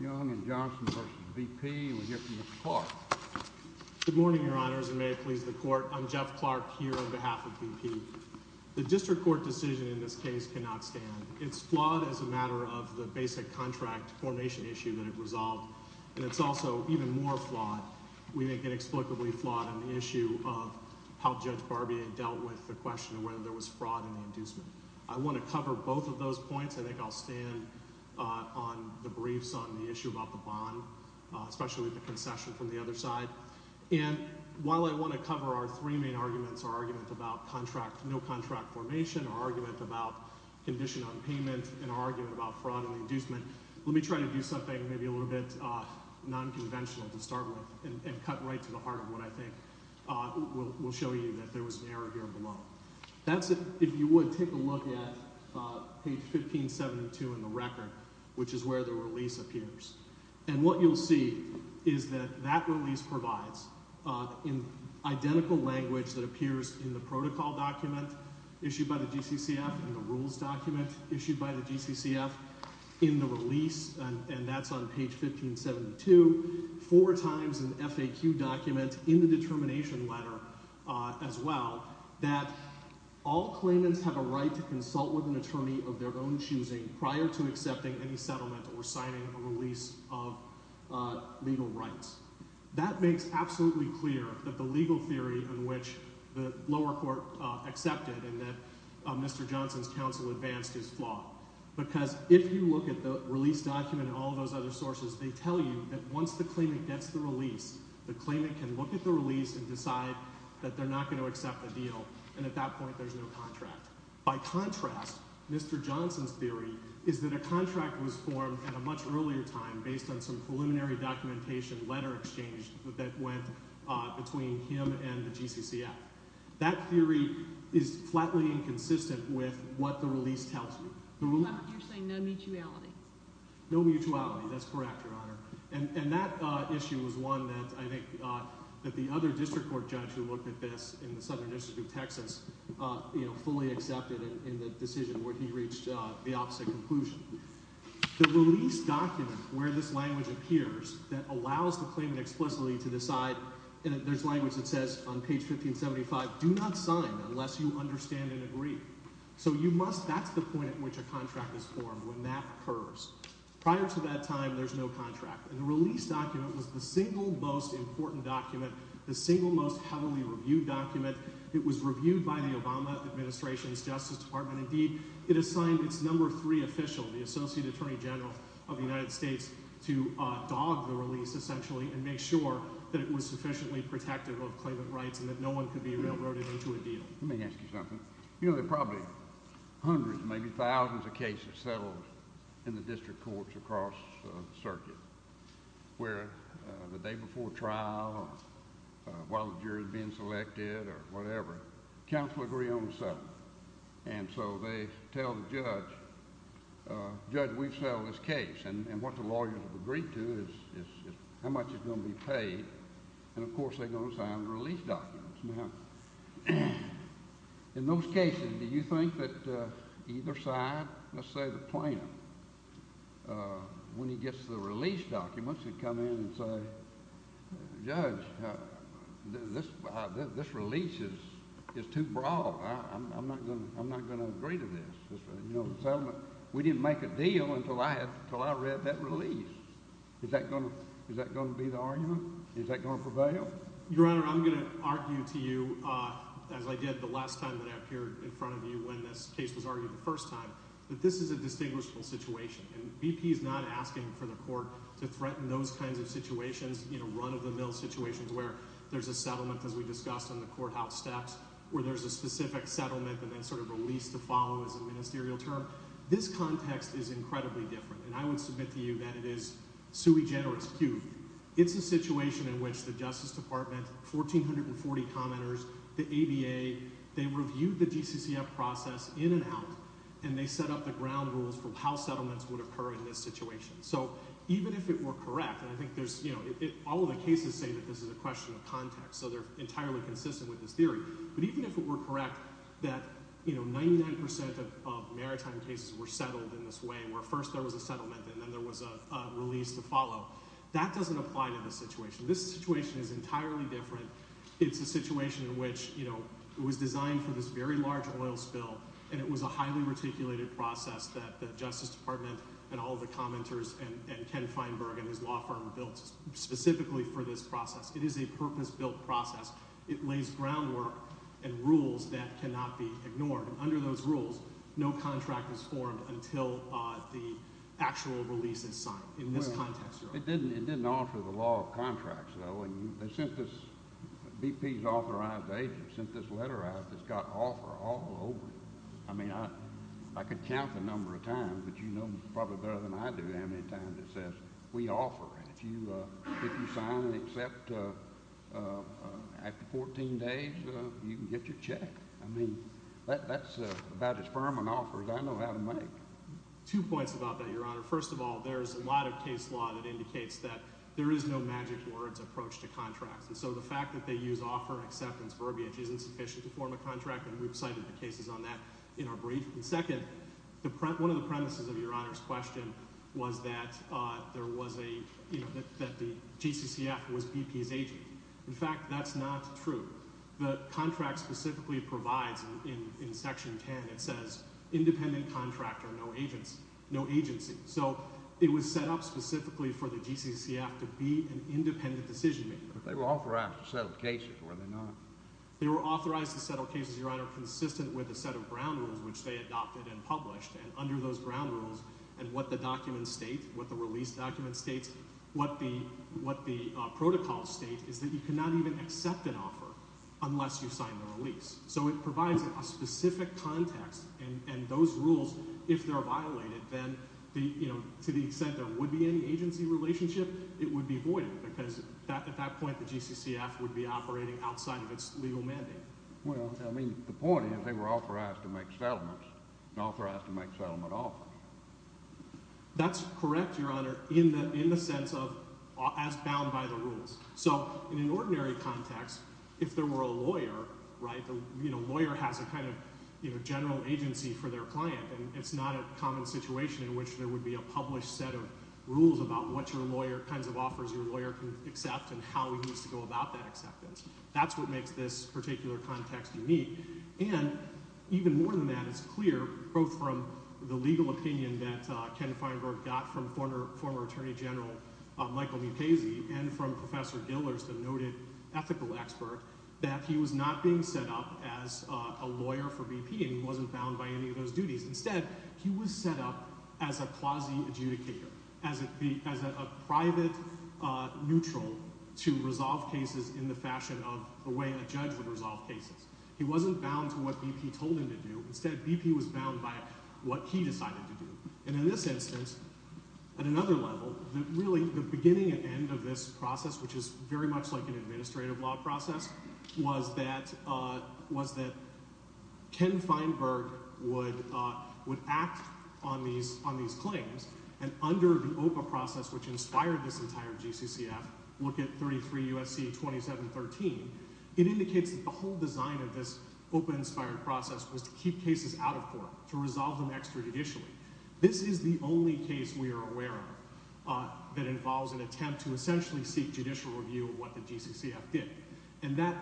Young and Johnson versus VP. We hear from Mr. Clark. Good morning, your honors, and may it please the court. I'm Jeff Clark here on behalf of VP. The district court decision in this case cannot stand. It's flawed as a matter of the basic contract formation issue that it resolved, and it's also even more flawed. We think inexplicably flawed on the issue of how Judge Barbier dealt with the question of whether there was fraud in the inducement. I want to cover both of those points. I think I'll stand on the briefs on the issue about the bond, especially the concession from the other side. And while I want to cover our three main arguments, our argument about contract, no contract formation, our argument about condition on payment, and our argument about fraud in the inducement, let me try to do something maybe a little bit non-conventional to start with and cut right to the heart of what I think will show you that there was an error here below. That's if you would take a look at page 1572 in the record, which is where the release appears. And what you'll see is that that release provides in identical language that appears in the protocol document issued by the GCCF and the rules document issued by the GCCF in the release, and that's on page 1572, four times an FAQ document in the determination letter as well, that all claimants have a right to consult with an attorney of their own choosing prior to accepting any settlement or signing a release of legal rights. That makes absolutely clear that the legal theory in which the lower court accepted and that Mr. Johnson's counsel advanced his flaw, because if you look at the release document and all those other sources, they tell you that once the claimant gets the release, the claimant can look at the release and decide that they're not going to accept the deal, and at that point there's no contract. By contrast, Mr. Johnson's theory is that a contract was formed at a much earlier time based on some preliminary documentation letter exchange that went between him and the GCCF. That theory is flatly inconsistent with what the release tells you. You're saying no mutuality? No mutuality, that's correct, Your Honor. And that issue was one that I think that the other district court judge who looked at this in the Southern District of Texas, you know, fully accepted in the decision where he reached the opposite conclusion. The release document where this language appears that allows the claimant explicitly to decide, and there's language that says on page 1575, do not sign unless you understand and agree. So you must, that's the point at which a contract is formed when that occurs. Prior to that time, there's no contract, and the release document was the single most important document, the single most heavily reviewed document. It was reviewed by the Obama Administration's Justice Department. Indeed, it assigned its number three official, the Associate Attorney General of the United States, to dog the release essentially and make sure that it was sufficiently protective of claimant rights and that no one could be railroaded into a deal. Let me ask you something. You know, there are probably hundreds, maybe thousands of cases settled in the district courts across the circuit where the day before trial or while the jury's being selected or whatever, counsel agree on the settlement, and so they tell the judge, Judge, we've settled this case, and what the lawyers agree to is how much it's going to be paid, and of course they're going to sign the release documents. Now, in those cases, do you think that either side, let's say the plaintiff, when he gets the release documents, he'd come in and say, Judge, this release is too broad. I'm not going to agree to this. We didn't make a deal until I read that release. Is that going to be the argument? Is that going to prevail? Your Honor, I'm going to argue to you as I did the last time that I appeared in front of you when this case was that this is a distinguishable situation, and BP is not asking for the court to threaten those kinds of situations, you know, run-of-the-mill situations where there's a settlement, as we discussed on the courthouse steps, where there's a specific settlement and then sort of a lease to follow as a ministerial term. This context is incredibly different, and I would submit to you that it is sui generis q. It's a situation in which the Justice Department, 1,440 commenters, the ABA, they reviewed the GCCF process in and out, and they set up the ground rules for how settlements would occur in this situation. So even if it were correct, and I think there's, you know, all of the cases say that this is a question of context, so they're entirely consistent with this theory, but even if it were correct that, you know, 99 percent of maritime cases were settled in this way, where first there was a settlement and then there was a release to follow, that doesn't apply to this situation. This situation is entirely different. It's a situation in which, you know, it was designed for this very large oil spill, and it was a highly reticulated process that the Justice Department and all the commenters and Ken Feinberg and his law firm built specifically for this process. It is a purpose-built process. It lays groundwork and rules that cannot be ignored, and under those rules, no contract is formed until the actual release is signed in this context. It didn't offer the law of contracts, though, and they sent this, BP's authorized agent sent this letter out that's got offer all over it. I mean, I could count the number of times, but you know probably better than I do how many times it says, we offer. If you sign and accept after 14 days, you can get your check. I mean, that's about as firm an offer as I know how to make. Two points about that, Your Honor. First of all, there's a lot of case law that indicates that there is no magic words approach to that. The fact that they use offer acceptance verbiage isn't sufficient to form a contract, and we've cited the cases on that in our brief. And second, one of the premises of Your Honor's question was that there was a, you know, that the GCCF was BP's agent. In fact, that's not true. The contract specifically provides, in Section 10, it says independent contractor, no agency. So, it was set up specifically for the GCCF to be an agency. So, they were authorized to settle cases, were they not? They were authorized to settle cases, Your Honor, consistent with a set of ground rules which they adopted and published, and under those ground rules and what the document states, what the release document states, what the protocol states, is that you cannot even accept an offer unless you sign the release. So, it provides a specific context, and those rules, if they're violated, then the, you know, to the extent there would be any agency relationship, it would be voided because at that point, the GCCF would be operating outside of its legal mandate. Well, I mean, the point is they were authorized to make settlements and authorized to make settlement offers. That's correct, Your Honor, in the sense of as bound by the rules. So, in an ordinary context, if there were a lawyer, right, the, you know, lawyer has a kind of, you know, general agency for their client, and it's not a common situation in which there would be a published set of rules about what your lawyer kinds of offers your lawyer can accept and how we used to go about that acceptance. That's what makes this particular context unique, and even more than that, it's clear both from the legal opinion that Ken Feinberg got from former Attorney General Michael Mukasey and from Professor Gillers, the noted ethical expert, that he was not being set up as a lawyer for BP, and he wasn't bound by any of those duties. Instead, he was set up as a quasi-adjudicator, as a private neutral to resolve cases in the fashion of the way a judge would resolve cases. He wasn't bound to what BP told him to do. Instead, BP was bound by what he decided to do, and in this instance, at another level, that really the beginning and end of this process, which is very much like an administrative law process, was that Ken Feinberg would act on these claims, and under the OPA process, which inspired this entire GCCF, look at 33 U.S.C. 2713, it indicates that the whole design of this OPA-inspired process was to keep cases out of court, to resolve them extra-judicially. This is the only case we are aware of that involves an attempt to essentially seek judicial review of what the GCCF did, and that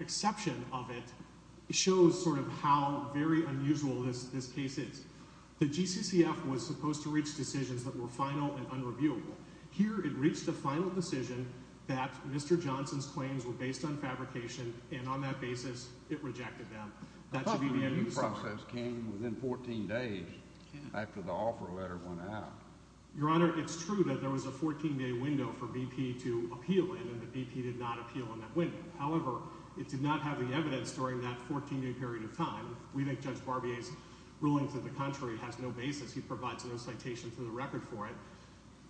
exception of it shows sort of how very unusual this case is. The GCCF was supposed to reach decisions that were final and unreviewable. Here, it reached a final decision that Mr. Johnson's claims were based on fabrication, and on that basis, it rejected them. That should be the end of the story. I thought the review process came within 14 days after the offer letter went out. Your Honor, it's true that there was a 14-day window for BP to appeal in, and that BP did not appeal in that window. However, it did not have the evidence during that 14-day period of time. We think Judge Barbier's ruling to the contrary has no basis. He provides no citation to the record for it.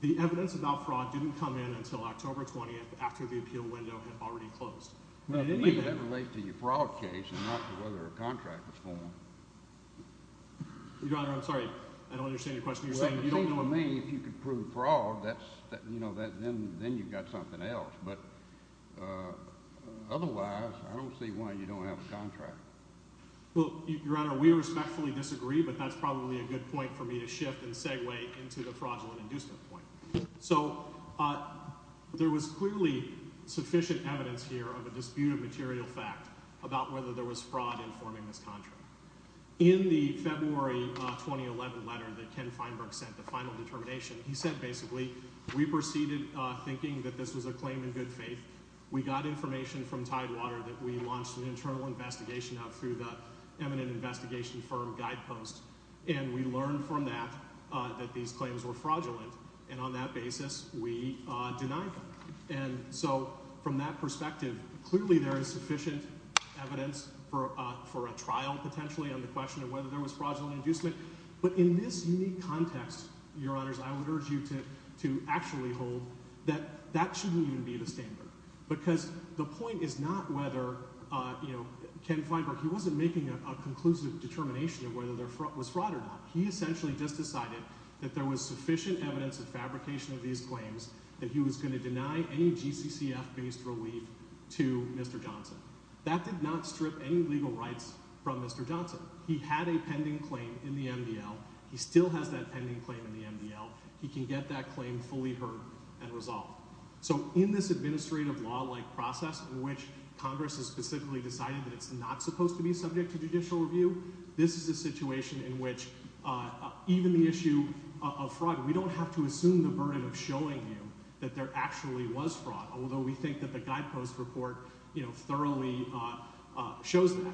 The evidence about fraud didn't come in until October 20th, after the appeal window had already closed. Well, to me, that relates to your fraud case, and not to whether a contract was formed. Your Honor, I'm sorry, I don't understand your question. You're saying you don't know if you can prove fraud, then you've got something else, but otherwise, I don't see why you don't have a contract. Well, Your Honor, we respectfully disagree, but that's probably a good point for me to shift and segue into the fraudulent inducement point. So, there was clearly sufficient evidence here of a dispute of material fact about whether there was fraud in forming this contract. In the February 2011 letter that Ken Feinberg sent, the final determination, he said, basically, we proceeded thinking that this was a claim in good faith. We got information from Tidewater that we launched an internal investigation out through the eminent investigation firm, Guidepost, and we learned from that that these claims were fraudulent, and on that basis, we denied them. And so, from that perspective, clearly, there is sufficient evidence for a trial, potentially, on the question of whether there was fraudulent inducement, but in this unique context, Your Honors, I would urge you to actually hold that that shouldn't even be the standard, because the point is not whether, you know, Ken Feinberg, he wasn't making a conclusive determination of whether there was fraud or not. He essentially just decided that there was sufficient evidence of fabrication of these claims that he was going to deny any GCCF- based relief to Mr. Johnson. That did not strip any legal rights from Mr. Johnson. He had a pending claim in the MDL. He still has that pending claim in the MDL. He can get that claim fully heard and resolved. So, in this administrative law-like process in which Congress has specifically decided that it's not supposed to be subject to judicial review, this is a situation in which even the issue of fraud, we don't have to assume the burden of showing you that there actually was fraud, although we think that the Guidepost report, you know, thoroughly shows that.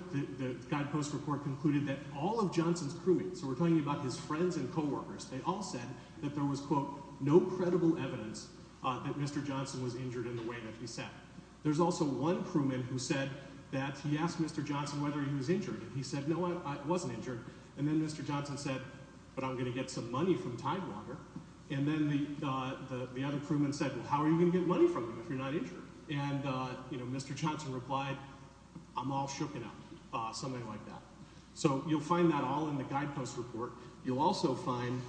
There was, quote, no credible evidence that Mr. Johnson was injured in the way that he sat. There's also one crewman who said that he asked Mr. Johnson whether he was injured, and he said, no, I wasn't injured. And then Mr. Johnson said, but I'm going to get some money from Tidewater. And then the other crewman said, well, how are you going to get money from him if you're not injured? And, you know, Mr. Johnson replied, I'm all shooken up, something like that. So, you'll find that all in the Guidepost report. You'll also find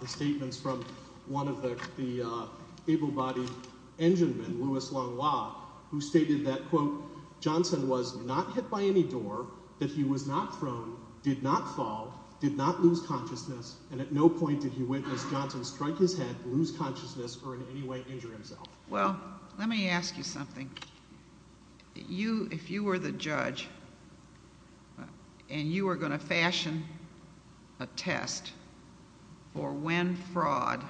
the statements from one of the able-bodied enginemen, Louis Langlois, who stated that, quote, Johnson was not hit by any door, that he was not thrown, did not fall, did not lose consciousness, and at no point did he witness Johnson strike his head, lose consciousness, or in any way injure himself. Well, let me ask you something. You, if you were the judge, and you were going to fashion a test for when fraud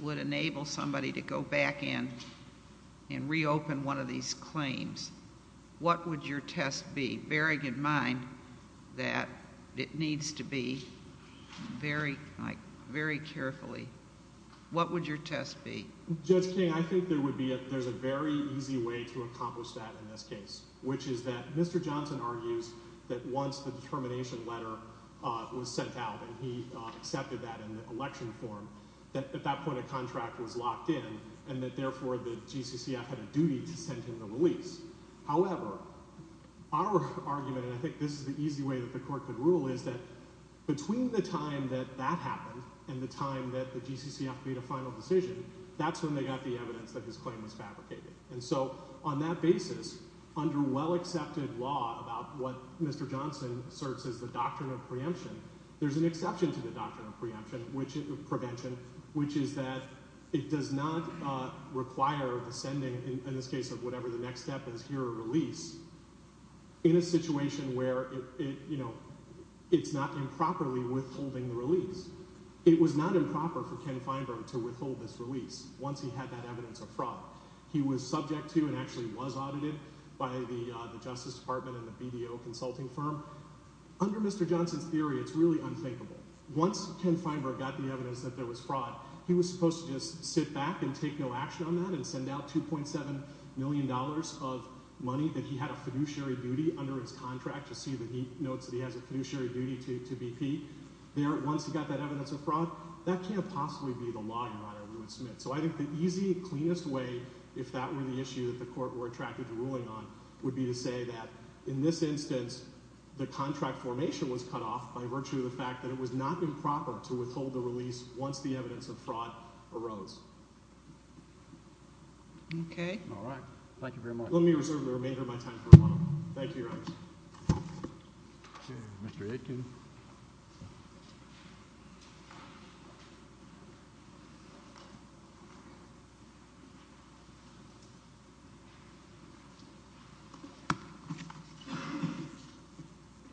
would enable somebody to go back in and reopen one of these claims, what would your test be, bearing in mind that it needs to be very, like, very carefully, what would your test be? Judge King, I think there would be, there's a very easy way to accomplish that in this case, which is that Mr. Johnson argues that once the determination letter was sent out, and he accepted that in the election form, that at that point a contract was locked in, and that therefore the GCCF had a duty to send him the release. However, our argument, and I think this is the easy way that the court could rule, is that between the time that that happened and the time that the GCCF made a final decision, that's when they got the evidence that his claim was fabricated. And so on that basis, under well-accepted law about what Mr. Johnson asserts is the doctrine of preemption, there's an exception to the doctrine of preemption, which is prevention, which is that it does not require the sending, in this case of whatever the next step is, here a release, in a situation where it, you know, it's not improperly withholding the release. It was not improper for Ken Feinberg to withhold this release once he had that evidence of fraud. He was subject to and actually was audited by the Justice Department and the BDO consulting firm. Under Mr. Johnson's theory, it's really unthinkable. Once Ken Feinberg got the evidence that there was fraud, he was supposed to just sit back and take no action on that and send out 2.7 million dollars of money that he had a fiduciary duty under his contract to see that he notes that he has a fiduciary duty to BP. There, once he got that evidence of fraud, I think the easy, cleanest way, if that were the issue that the court were attracted to ruling on, would be to say that in this instance, the contract formation was cut off by virtue of the fact that it was not improper to withhold the release once the evidence of fraud arose. Okay. All right. Thank you very much. Let me reserve the remainder of my time for a moment. Thank you, Your Honors. Mr. Aitken.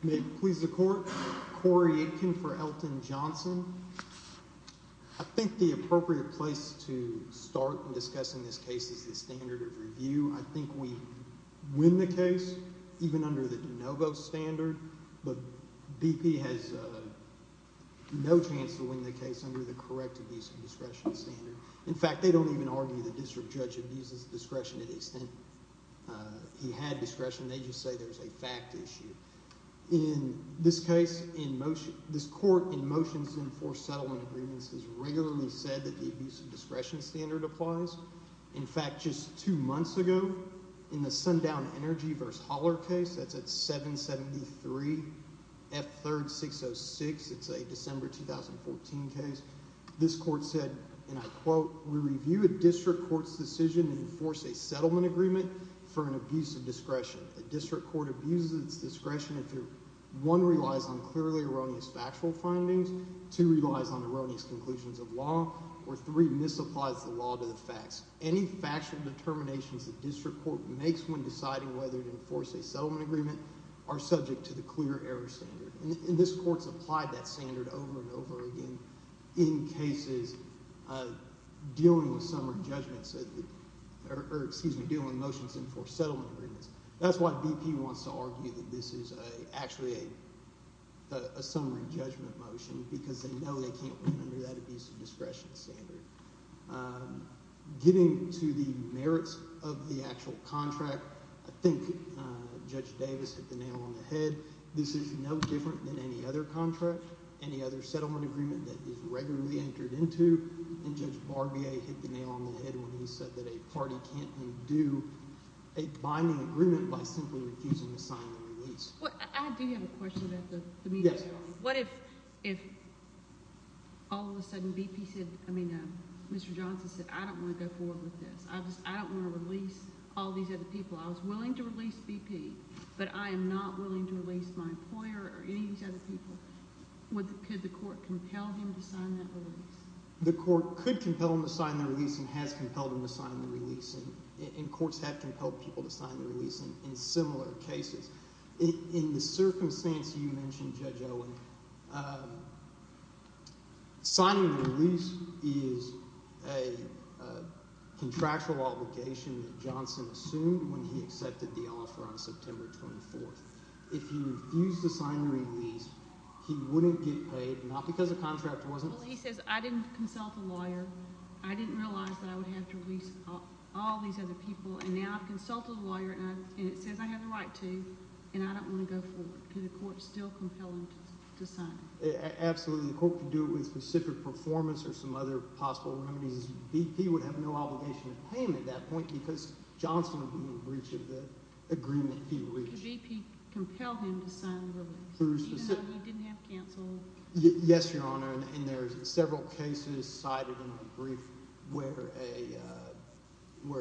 May it please the Court, Corey Aitken for Elton Johnson. I think the appropriate place to start discussing this case is the standard of review. I think we win the case, even under the de novo standard, but BP has no chance to win the case under the correct abuse of discretion standard. In fact, they don't even argue the district judge abuses discretion to the extent he had discretion. They just say there's a fact issue. In this case, in motion, this Court, in motions to enforce settlement agreements, has regularly said that the abuse of discretion standard applies. In fact, just two months ago, in the Sundown Energy v. Holler case, that's at 773 F3rd 606, it's a December 2014 case, this Court said, and I quote, We review a district court's decision to enforce a settlement agreement for an abuse of discretion. A district court abuses its discretion if it, one, relies on clearly erroneous factual findings, two, relies on erroneous conclusions of law, or three, misapplies the law to the facts. Any factual determinations the district court makes when deciding whether to enforce a settlement agreement are subject to the clear error standard. And this Court's applied that standard over and over again in cases dealing with summary judgments, or excuse me, dealing with motions to enforce settlement agreements. That's why BP wants to argue that this is actually a summary judgment motion, because they know they can't win under that abuse of discretion standard. Getting to the merits of the actual contract, I think Judge Davis hit the nail on the head. This is no different than any other contract, any other settlement agreement that is regularly entered into. And Judge Barbier hit the nail on the head when he said that a party can't undo a binding agreement by simply refusing to sign the release. I do have a question about the media. Yes. What if all of a sudden BP said – I mean Mr. Johnson said I don't want to go forward with this. I don't want to release all these other people. I was willing to release BP, but I am not willing to release my employer or any of these other people. Could the court compel him to sign that release? The court could compel him to sign the release and has compelled him to sign the release. And courts have compelled people to sign the release in similar cases. In the circumstance you mentioned, Judge Owen, signing the release is a contractual obligation that Johnson assumed when he accepted the offer on September 24th. If he refused to sign the release, he wouldn't get paid, not because the contract wasn't – Well, he says I didn't consult the lawyer. I didn't realize that I would have to release all these other people. And now I've consulted the lawyer, and it says I have the right to, and I don't want to go forward. Could the court still compel him to sign it? Absolutely. The court could do it with specific performance or some other possible remedies. BP would have no obligation to pay him at that point because Johnson would be in breach of the agreement he reached. Could BP compel him to sign the release even though he didn't have counsel? Yes, Your Honor, and there are several cases cited in our brief where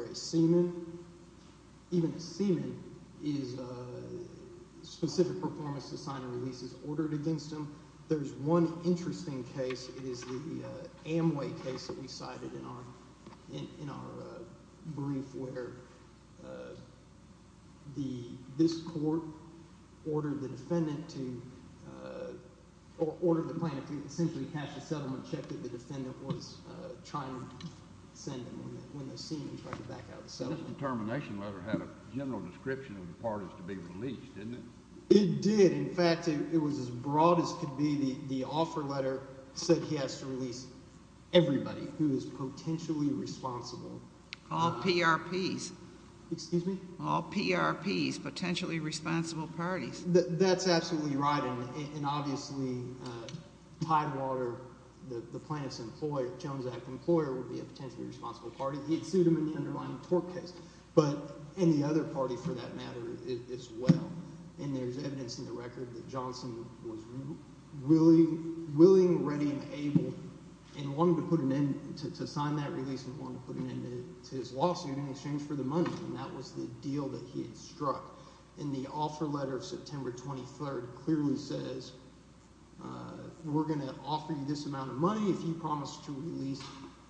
a seaman – even a seaman is – specific performance to sign a release is ordered against him. There's one interesting case. It is the Amway case that we cited in our brief where the – this court ordered the defendant to – or ordered the plaintiff to essentially cash the settlement check that the defendant was trying to send when the seaman was trying to back out the settlement. This determination letter had a general description of the parties to be released, didn't it? It did. In fact, it was as broad as could be. The offer letter said he has to release everybody who is potentially responsible. All PRPs. Excuse me? All PRPs, potentially responsible parties. That's absolutely right, and obviously Tidewater, the plaintiff's employer, Jones Act employer, would be a potentially responsible party. He had sued him in the underlying tort case, but – and the other party for that matter as well. And there's evidence in the record that Johnson was willing, ready, and able and wanted to put an end – to sign that release and wanted to put an end to his lawsuit in exchange for the money, and that was the deal that he had struck. And the offer letter of September 23rd clearly says we're going to offer you this amount of money if you promise to release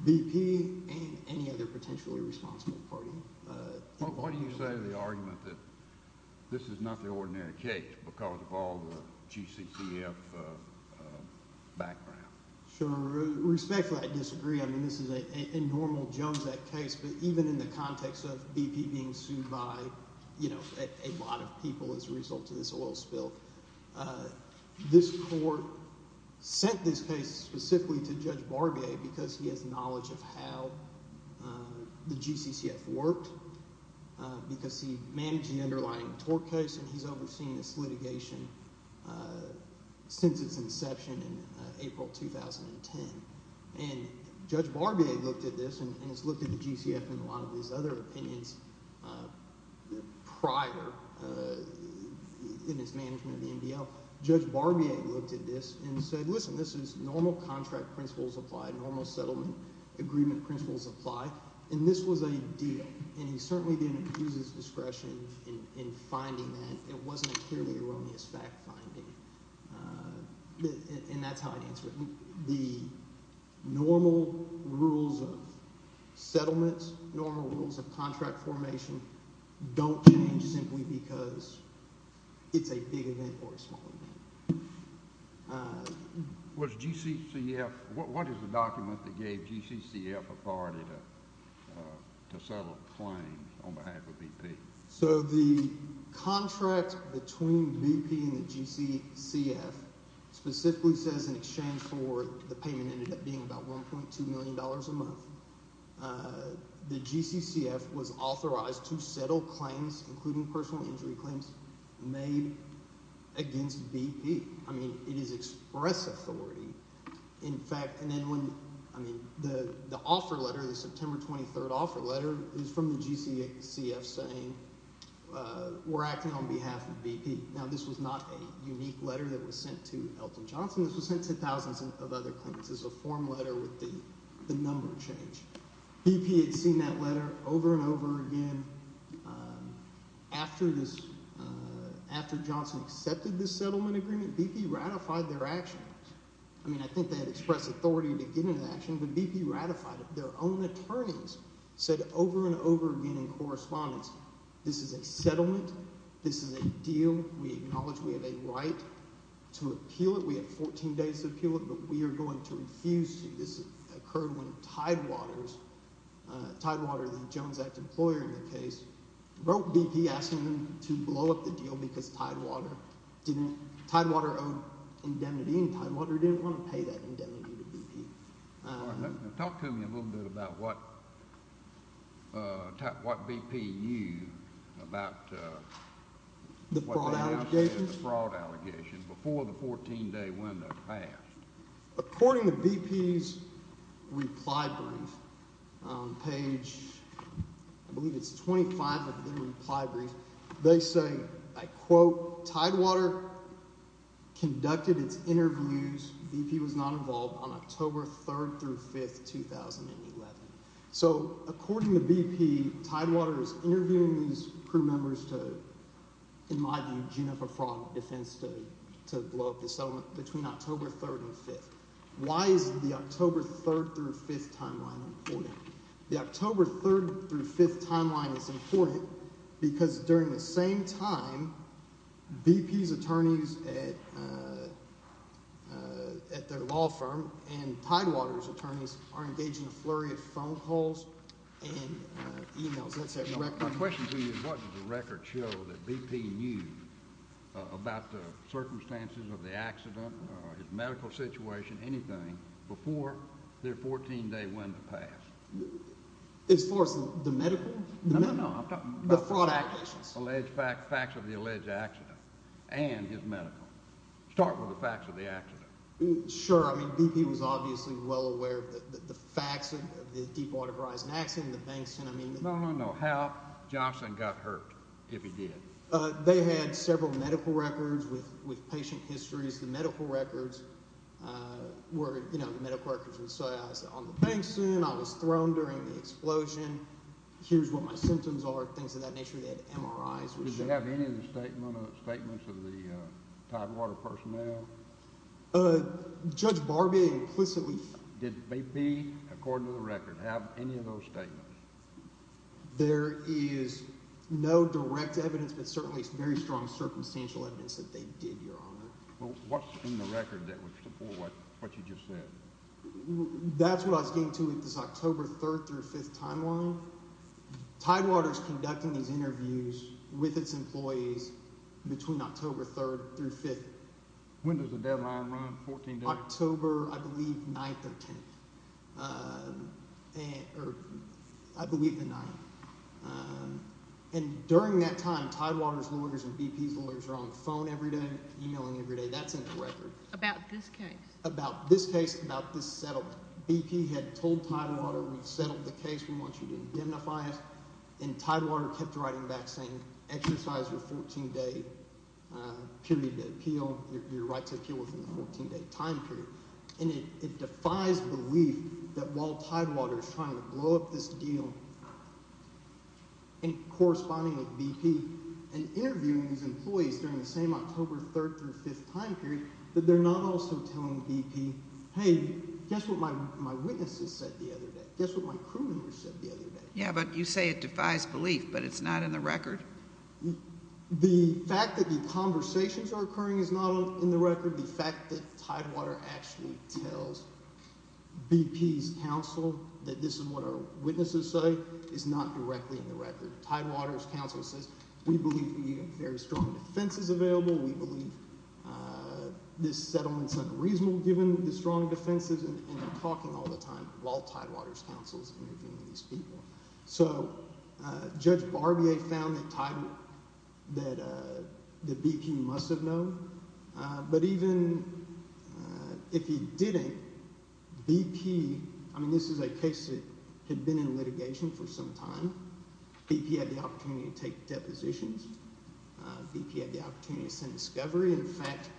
BP and any other potentially responsible party. Why do you say the argument that this is not the ordinary case because of all the GCCF background? Sure. Respectfully, I disagree. I mean this is a normal Jones Act case, but even in the context of BP being sued by a lot of people as a result of this oil spill. This court sent this case specifically to Judge Barbier because he has knowledge of how the GCCF worked, because he managed the underlying tort case, and he's overseen this litigation since its inception in April 2010. And Judge Barbier looked at this and has looked at the GCCF and a lot of these other opinions prior in its management of the MDL. Judge Barbier looked at this and said, listen, this is – normal contract principles apply, normal settlement agreement principles apply, and this was a deal. And he certainly didn't use his discretion in finding that. It wasn't a purely erroneous fact-finding. And that's how I'd answer it. The normal rules of settlement, normal rules of contract formation don't change simply because it's a big event or a small event. Was GCCF – what is the document that gave GCCF authority to settle a claim on behalf of BP? So the contract between BP and the GCCF specifically says in exchange for – the payment ended up being about $1.2 million a month. The GCCF was authorized to settle claims, including personal injury claims, made against BP. I mean it is express authority. In fact – and then when – I mean the offer letter, the September 23rd offer letter is from the GCCF saying we're acting on behalf of BP. Now this was not a unique letter that was sent to Elton Johnson. This was sent to thousands of other claimants as a form letter with the number change. BP had seen that letter over and over again. After this – after Johnson accepted this settlement agreement, BP ratified their action. I mean I think they had expressed authority to get into action, but BP ratified it. Their own attorneys said over and over again in correspondence, this is a settlement. This is a deal. We acknowledge we have a right to appeal it. We have 14 days to appeal it, but we are going to refuse to. This occurred when Tidewater's – Tidewater, the Jones Act employer in the case, wrote BP asking them to blow up the deal because Tidewater didn't – Tidewater owed indemnity, and Tidewater didn't want to pay that indemnity to BP. Talk to me a little bit about what BP used about what they now say is a fraud allegation before the 14-day window passed. According to BP's reply brief, page – I believe it's 25 of their reply brief – they say, I quote, Tidewater conducted its interviews – BP was not involved – on October 3rd through 5th, 2011. So according to BP, Tidewater is interviewing these crew members to, in my view, gene up a fraud defense to blow up the settlement between October 3rd and 5th. Why is the October 3rd through 5th timeline important? The October 3rd through 5th timeline is important because during the same time, BP's attorneys at their law firm and Tidewater's attorneys are engaged in a flurry of phone calls and emails. My question to you is what does the record show that BP used about the circumstances of the accident or his medical situation, anything, before their 14-day window passed? As far as the medical? No, no, no. I'm talking about – The fraud allegations. Alleged – facts of the alleged accident and his medical. Start with the facts of the accident. Sure. I mean BP was obviously well aware of the facts of the Deepwater Horizon accident and the banks and – No, no, no. How Johnson got hurt, if he did? They had several medical records with patient histories. The medical records were – you know, the medical records would say I was on the bank soon, I was thrown during the explosion, here's what my symptoms are, things of that nature. They had MRIs. Did they have any of the statements of the Tidewater personnel? Judge Barbee implicitly – Did BP, according to the record, have any of those statements? There is no direct evidence, but certainly very strong circumstantial evidence that they did, Your Honor. Well, what's in the record that would support what you just said? That's what I was getting to with this October 3rd through 5th timeline. Tidewater's conducting these interviews with its employees between October 3rd through 5th. When does the deadline run, 14 days? October, I believe, 9th or 10th, or I believe the 9th. And during that time, Tidewater's lawyers and BP's lawyers are on the phone every day, emailing every day. That's in the record. About this case? About this case, about this settlement. BP had told Tidewater we've settled the case, we want you to indemnify us, and Tidewater kept writing back saying exercise your 14-day period of appeal, your right to appeal within the 14-day time period. And it defies belief that while Tidewater's trying to blow up this deal, and corresponding with BP, and interviewing these employees during the same October 3rd through 5th time period, that they're not also telling BP, hey, guess what my witnesses said the other day, guess what my crew members said the other day. Yeah, but you say it defies belief, but it's not in the record? The fact that the conversations are occurring is not in the record. The fact that Tidewater actually tells BP's counsel that this is what our witnesses say is not directly in the record. Tidewater's counsel says we believe we have very strong defenses available, we believe this settlement's unreasonable given the strong defenses, and they're talking all the time while Tidewater's counsel is interviewing these people. So Judge Barbier found that Tidewater – that BP must have known, but even if he didn't, BP – I mean this is a case that had been in litigation for some time. BP had the opportunity to take depositions. BP had the opportunity to send discovery. In fact,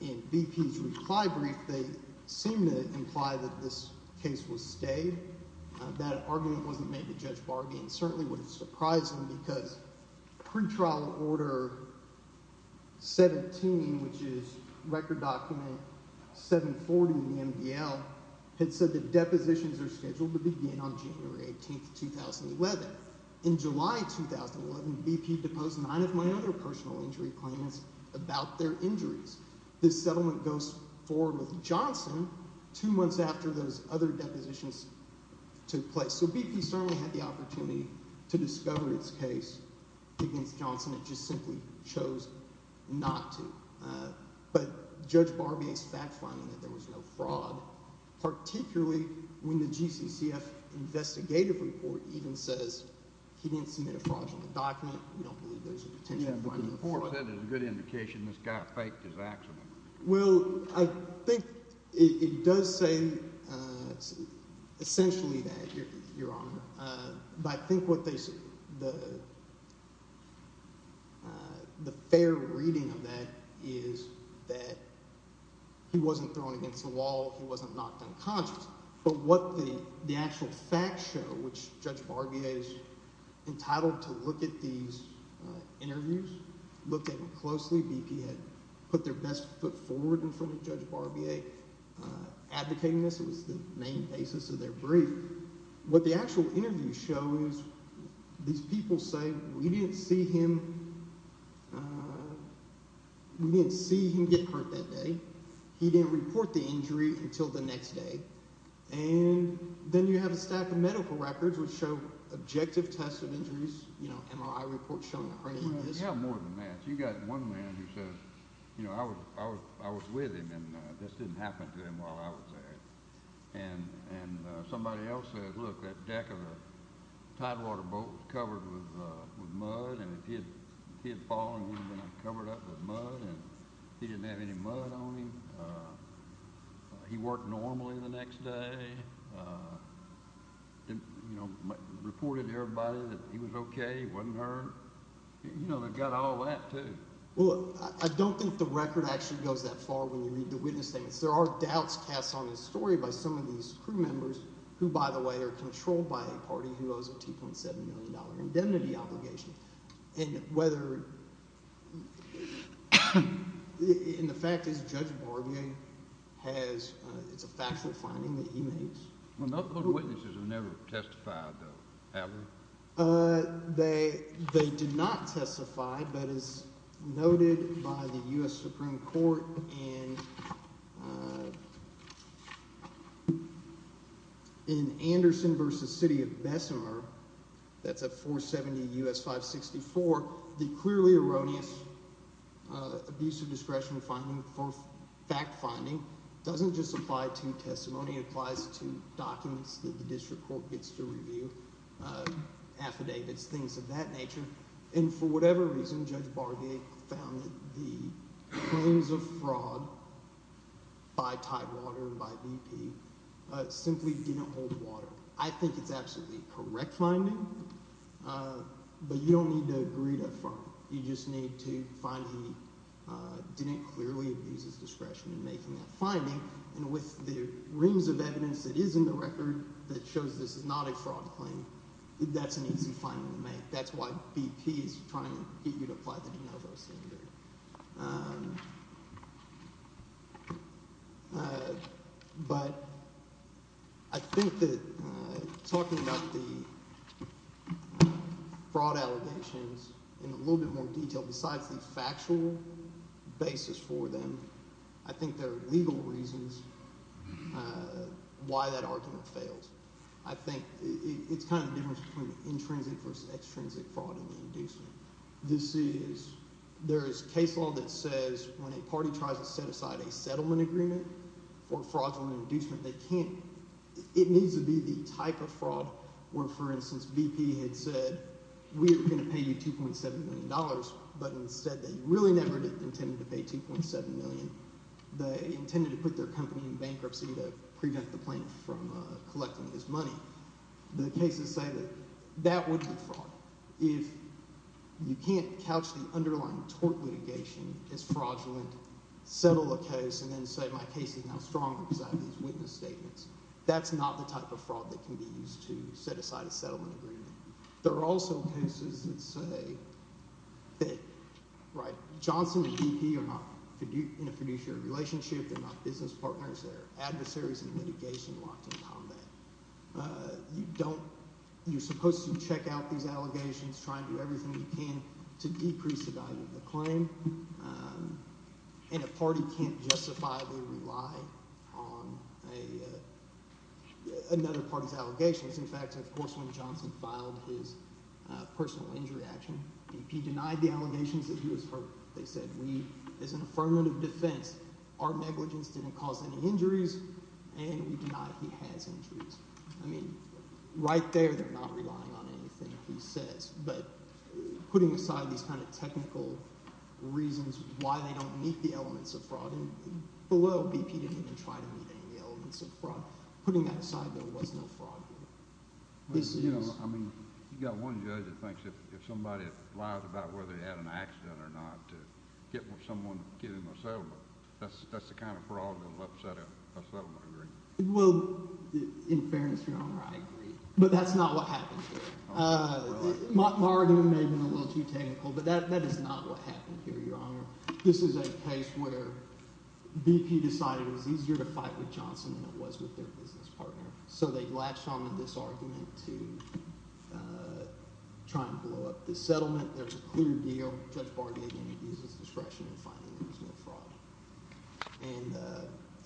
in BP's reply brief, they seem to imply that this case was stayed. That argument wasn't made to Judge Barbier and certainly would have surprised him because pretrial order 17, which is record document 740 in the MDL, had said that depositions are scheduled to begin on January 18th, 2011. But in July 2011, BP deposed nine of my other personal injury claims about their injuries. This settlement goes forward with Johnson two months after those other depositions took place. So BP certainly had the opportunity to discover its case against Johnson. It just simply chose not to. But Judge Barbier's fact-finding that there was no fraud, particularly when the GCCF investigative report even says he didn't submit a fraudulent document. The report said it was a good indication this guy faked his accident. BP's interviews looked at them closely. BP had put their best foot forward in front of Judge Barbier advocating this. It was the main basis of their brief. What the actual interviews show is these people say, we didn't see him get hurt that day. He didn't report the injury until the next day. And then you have a stack of medical records which show objective tests of injuries. You have more than that. You've got one man who says, you know, I was with him and this didn't happen to him while I was there. And somebody else says, look, that deck of the tidewater boat was covered with mud and he had fallen on it when I covered it up with mud and he didn't have any mud on him. He worked normally the next day. You know, reported to everybody that he was okay, he wasn't hurt. You know, they've got all that too. Well, I don't think the record actually goes that far when you read the witness statements. There are doubts cast on this story by some of these crew members who, by the way, are controlled by a party who owes a $2.7 million indemnity obligation. And whether – and the fact is Judge Barbier has – it's a factual finding that he made. Those witnesses have never testified, though, have they? They did not testify, but as noted by the U.S. Supreme Court in Anderson v. City of Bessemer – that's a 470 U.S. 564 – the clearly erroneous abuse of discretion finding for fact finding doesn't just apply to testimony. It applies to documents that the district court gets to review, affidavits, things of that nature. And for whatever reason, Judge Barbier found that the claims of fraud by Tidewater and by BP simply didn't hold water. I think it's absolutely correct finding, but you don't need to agree to affirm. You just need to find he didn't clearly abuse his discretion in making that finding, and with the reams of evidence that is in the record that shows this is not a fraud claim, that's an easy finding to make. That's why BP is trying to get you to apply the de novo standard. But I think that talking about the fraud allegations in a little bit more detail, besides the factual basis for them, I think there are legal reasons why that argument failed. I think it's kind of the difference between the intrinsic versus extrinsic fraud and the inducement. This is – there is case law that says when a party tries to set aside a settlement agreement for fraudulent inducement, they can't. It needs to be the type of fraud where, for instance, BP had said we are going to pay you $2.7 million, but instead they really never intended to pay $2.7 million. They intended to put their company in bankruptcy to prevent the plaintiff from collecting this money. The cases say that that would be fraud. If you can't couch the underlying tort litigation as fraudulent, settle a case, and then say my case is now stronger because I have these witness statements, that's not the type of fraud that can be used to set aside a settlement agreement. There are also cases that say that Johnson and BP are not in a fiduciary relationship. They're not business partners. They're adversaries in litigation locked in combat. You don't – you're supposed to check out these allegations, try and do everything you can to decrease the value of the claim. And a party can't justifiably rely on another party's allegations. One of the interesting facts, of course, when Johnson filed his personal injury action, BP denied the allegations that he was hurt. They said we, as an affirmative defense, our negligence didn't cause any injuries, and we deny he has injuries. I mean right there they're not relying on anything he says. But putting aside these kind of technical reasons why they don't meet the elements of fraud, and below BP didn't even try to meet any of the elements of fraud. Putting that aside, there was no fraud here. This is – I mean you've got one judge that thinks if somebody lies about whether they had an accident or not to get someone to get him a settlement. That's the kind of fraud that will upset a settlement agreement. Well, in fairness, Your Honor, I agree. But that's not what happened here. My argument may have been a little too technical, but that is not what happened here, Your Honor. This is a case where BP decided it was easier to fight with Johnson than it was with their business partner. So they latched onto this argument to try and blow up the settlement. There's a clear deal. Judge Bardi, again, uses discretion in finding there was no fraud. And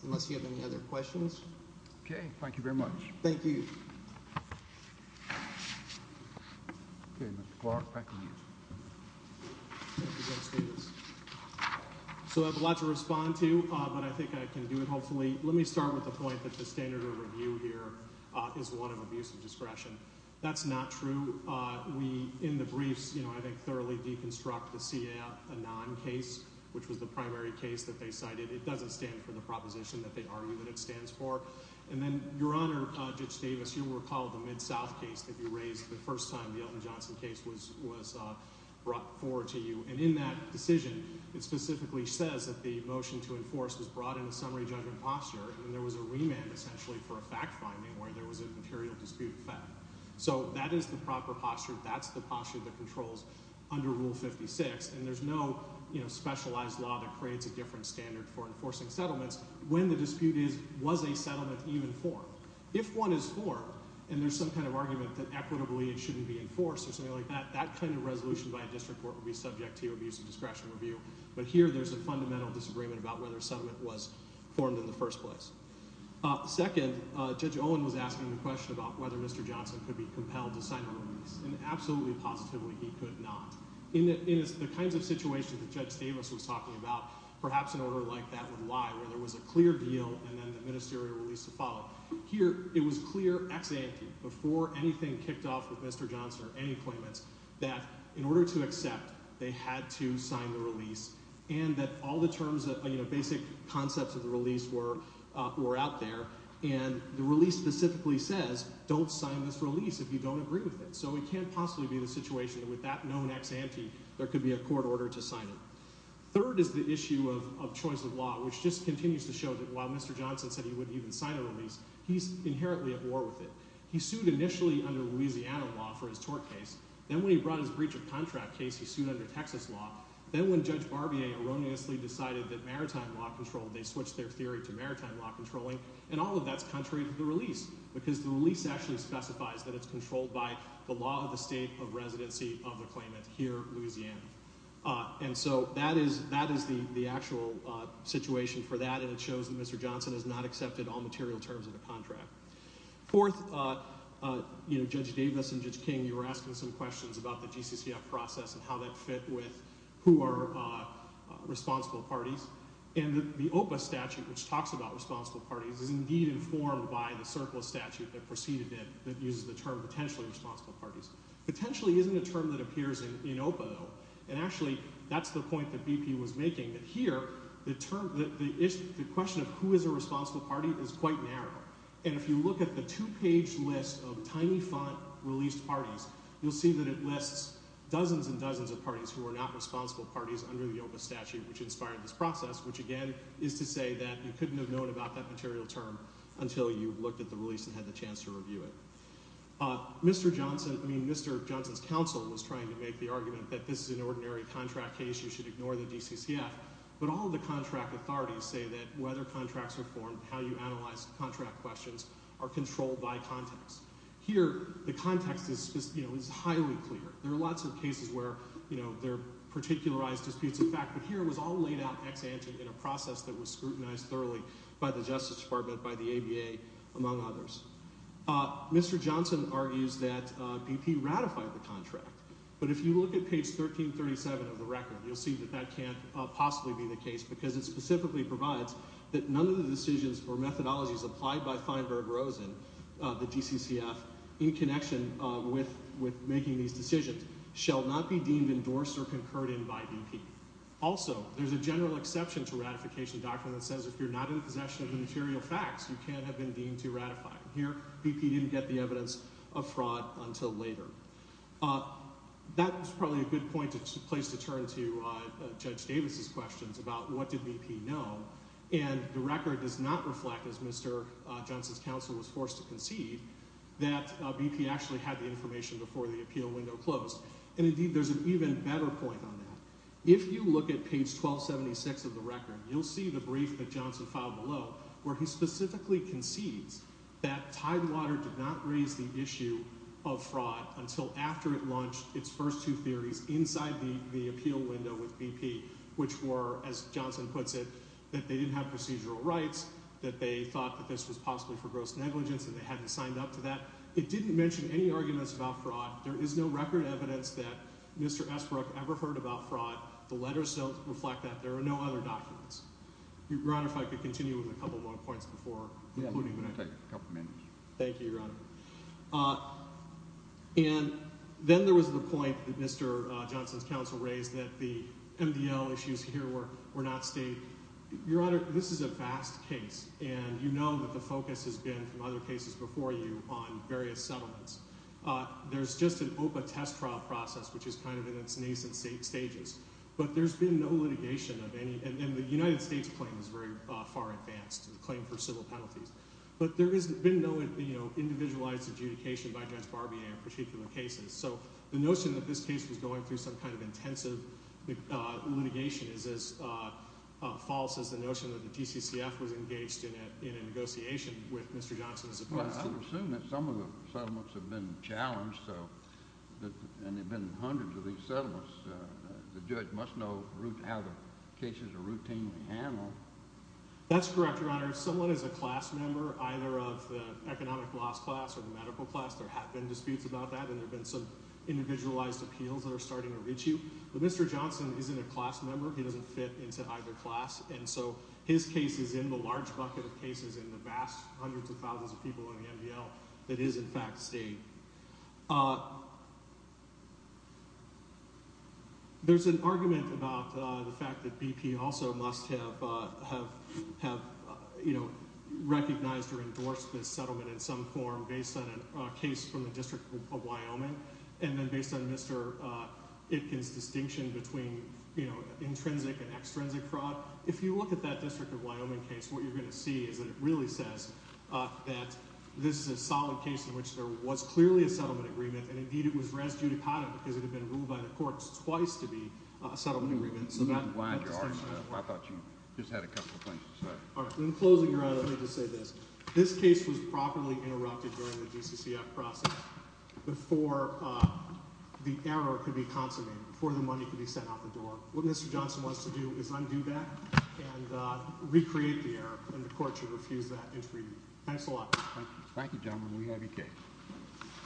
unless you have any other questions. Okay. Thank you very much. Thank you. Okay, Mr. Clark, back to you. Thank you, Justice. So I have a lot to respond to, but I think I can do it hopefully. Let me start with the point that the standard of review here is one of abuse of discretion. That's not true. We, in the briefs, I think thoroughly deconstruct the CAF Anon case, which was the primary case that they cited. It doesn't stand for the proposition that they argue that it stands for. And then, Your Honor, Judge Davis, you'll recall the Mid-South case that you raised the first time the Elton Johnson case was brought forward to you. And in that decision, it specifically says that the motion to enforce was brought in a summary judgment posture. And there was a remand, essentially, for a fact finding where there was a material dispute of fact. So that is the proper posture. That's the posture that controls under Rule 56. And there's no specialized law that creates a different standard for enforcing settlements when the dispute is, was a settlement even formed? If one is formed and there's some kind of argument that equitably it shouldn't be enforced or something like that, that kind of resolution by a district court would be subject to abuse of discretion review. But here there's a fundamental disagreement about whether a settlement was formed in the first place. Second, Judge Owen was asking the question about whether Mr. Johnson could be compelled to sign a remand. And absolutely, positively, he could not. In the kinds of situations that Judge Davis was talking about, perhaps an order like that would lie, where there was a clear deal and then the ministerial release to follow. Here it was clear ex ante, before anything kicked off with Mr. Johnson or any claimants, that in order to accept, they had to sign the release and that all the terms, you know, basic concepts of the release were out there. And the release specifically says don't sign this release if you don't agree with it. So it can't possibly be the situation that with that known ex ante there could be a court order to sign it. Third is the issue of choice of law, which just continues to show that while Mr. Johnson said he wouldn't even sign a release, he's inherently at war with it. He sued initially under Louisiana law for his tort case. Then when he brought his breach of contract case, he sued under Texas law. Then when Judge Barbier erroneously decided that maritime law controlled, they switched their theory to maritime law controlling, and all of that's contrary to the release because the release actually specifies that it's controlled by the law of the state of residency of the claimant here, Louisiana. And so that is the actual situation for that, and it shows that Mr. Johnson has not accepted all material terms of the contract. Fourth, you know, Judge Davis and Judge King, you were asking some questions about the GCCF process and how that fit with who are responsible parties. And the OPA statute, which talks about responsible parties, is indeed informed by the surplus statute that preceded it that uses the term potentially responsible parties. Potentially isn't a term that appears in OPA, though, and actually that's the point that BP was making, that here the question of who is a responsible party is quite narrow. And if you look at the two-page list of tiny font released parties, you'll see that it lists dozens and dozens of parties who are not responsible parties under the OPA statute, which inspired this process, which again is to say that you couldn't have known about that material term until you looked at the release and had the chance to review it. Mr. Johnson, I mean, Mr. Johnson's counsel was trying to make the argument that this is an ordinary contract case, you should ignore the GCCF. But all of the contract authorities say that whether contracts are formed, how you analyze contract questions, are controlled by context. Here, the context is highly clear. There are lots of cases where there are particularized disputes of fact, but here it was all laid out ex-ante in a process that was scrutinized thoroughly by the Justice Department, by the ABA, among others. Mr. Johnson argues that BP ratified the contract. But if you look at page 1337 of the record, you'll see that that can't possibly be the case because it specifically provides that none of the decisions or methodologies applied by Feinberg Rosen, the GCCF, in connection with making these decisions, shall not be deemed endorsed or concurred in by BP. Also, there's a general exception to ratification doctrine that says if you're not in possession of the material facts, you can't have been deemed to ratify. Here, BP didn't get the evidence of fraud until later. That is probably a good place to turn to Judge Davis's questions about what did BP know. And the record does not reflect, as Mr. Johnson's counsel was forced to concede, that BP actually had the information before the appeal window closed. And, indeed, there's an even better point on that. If you look at page 1276 of the record, you'll see the brief that Johnson filed below where he specifically concedes that Tidewater did not raise the issue of fraud until after it launched its first two theories inside the appeal window with BP, which were, as Johnson puts it, that they didn't have procedural rights, that they thought that this was possibly for gross negligence, and they hadn't signed up to that. It didn't mention any arguments about fraud. There is no record evidence that Mr. Esbrook ever heard about fraud. The letters don't reflect that. There are no other documents. Your Honor, if I could continue with a couple more points before concluding. I'm going to take a couple minutes. Thank you, Your Honor. And then there was the point that Mr. Johnson's counsel raised that the MDL issues here were not state. Your Honor, this is a vast case, and you know that the focus has been, from other cases before you, on various settlements. There's just an OPA test trial process, which is kind of in its nascent stages. But there's been no litigation of any—and the United States claim is very far advanced, the claim for civil penalties. But there has been no individualized adjudication by Judge Barbier in particular cases. So the notion that this case was going through some kind of intensive litigation is as false as the notion that the GCCF was engaged in a negotiation with Mr. Johnson as opposed to— I would assume that some of the settlements have been challenged, and there have been hundreds of these settlements. The judge must know how the cases are routinely handled. That's correct, Your Honor. Someone is a class member, either of the economic laws class or the medical class. There have been disputes about that, and there have been some individualized appeals that are starting to reach you. But Mr. Johnson isn't a class member. He doesn't fit into either class. And so his case is in the large bucket of cases in the vast hundreds of thousands of people in the MDL that is, in fact, state. There's an argument about the fact that BP also must have recognized or endorsed this settlement in some form based on a case from the District of Wyoming, and then based on Mr. Itkin's distinction between intrinsic and extrinsic fraud. If you look at that District of Wyoming case, what you're going to see is that it really says that this is a solid case in which there was clearly a settlement agreement, and, indeed, it was res judicata because it had been ruled by the courts twice to be a settlement agreement. I'm glad you're honest. I thought you just had a couple of things to say. In closing, Your Honor, let me just say this. This case was properly interrupted during the GCCF process before the error could be consummated, before the money could be sent out the door. What Mr. Johnson wants to do is undo that and recreate the error, and the court should refuse that intervening. Thanks a lot. Thank you, gentlemen. We have your case.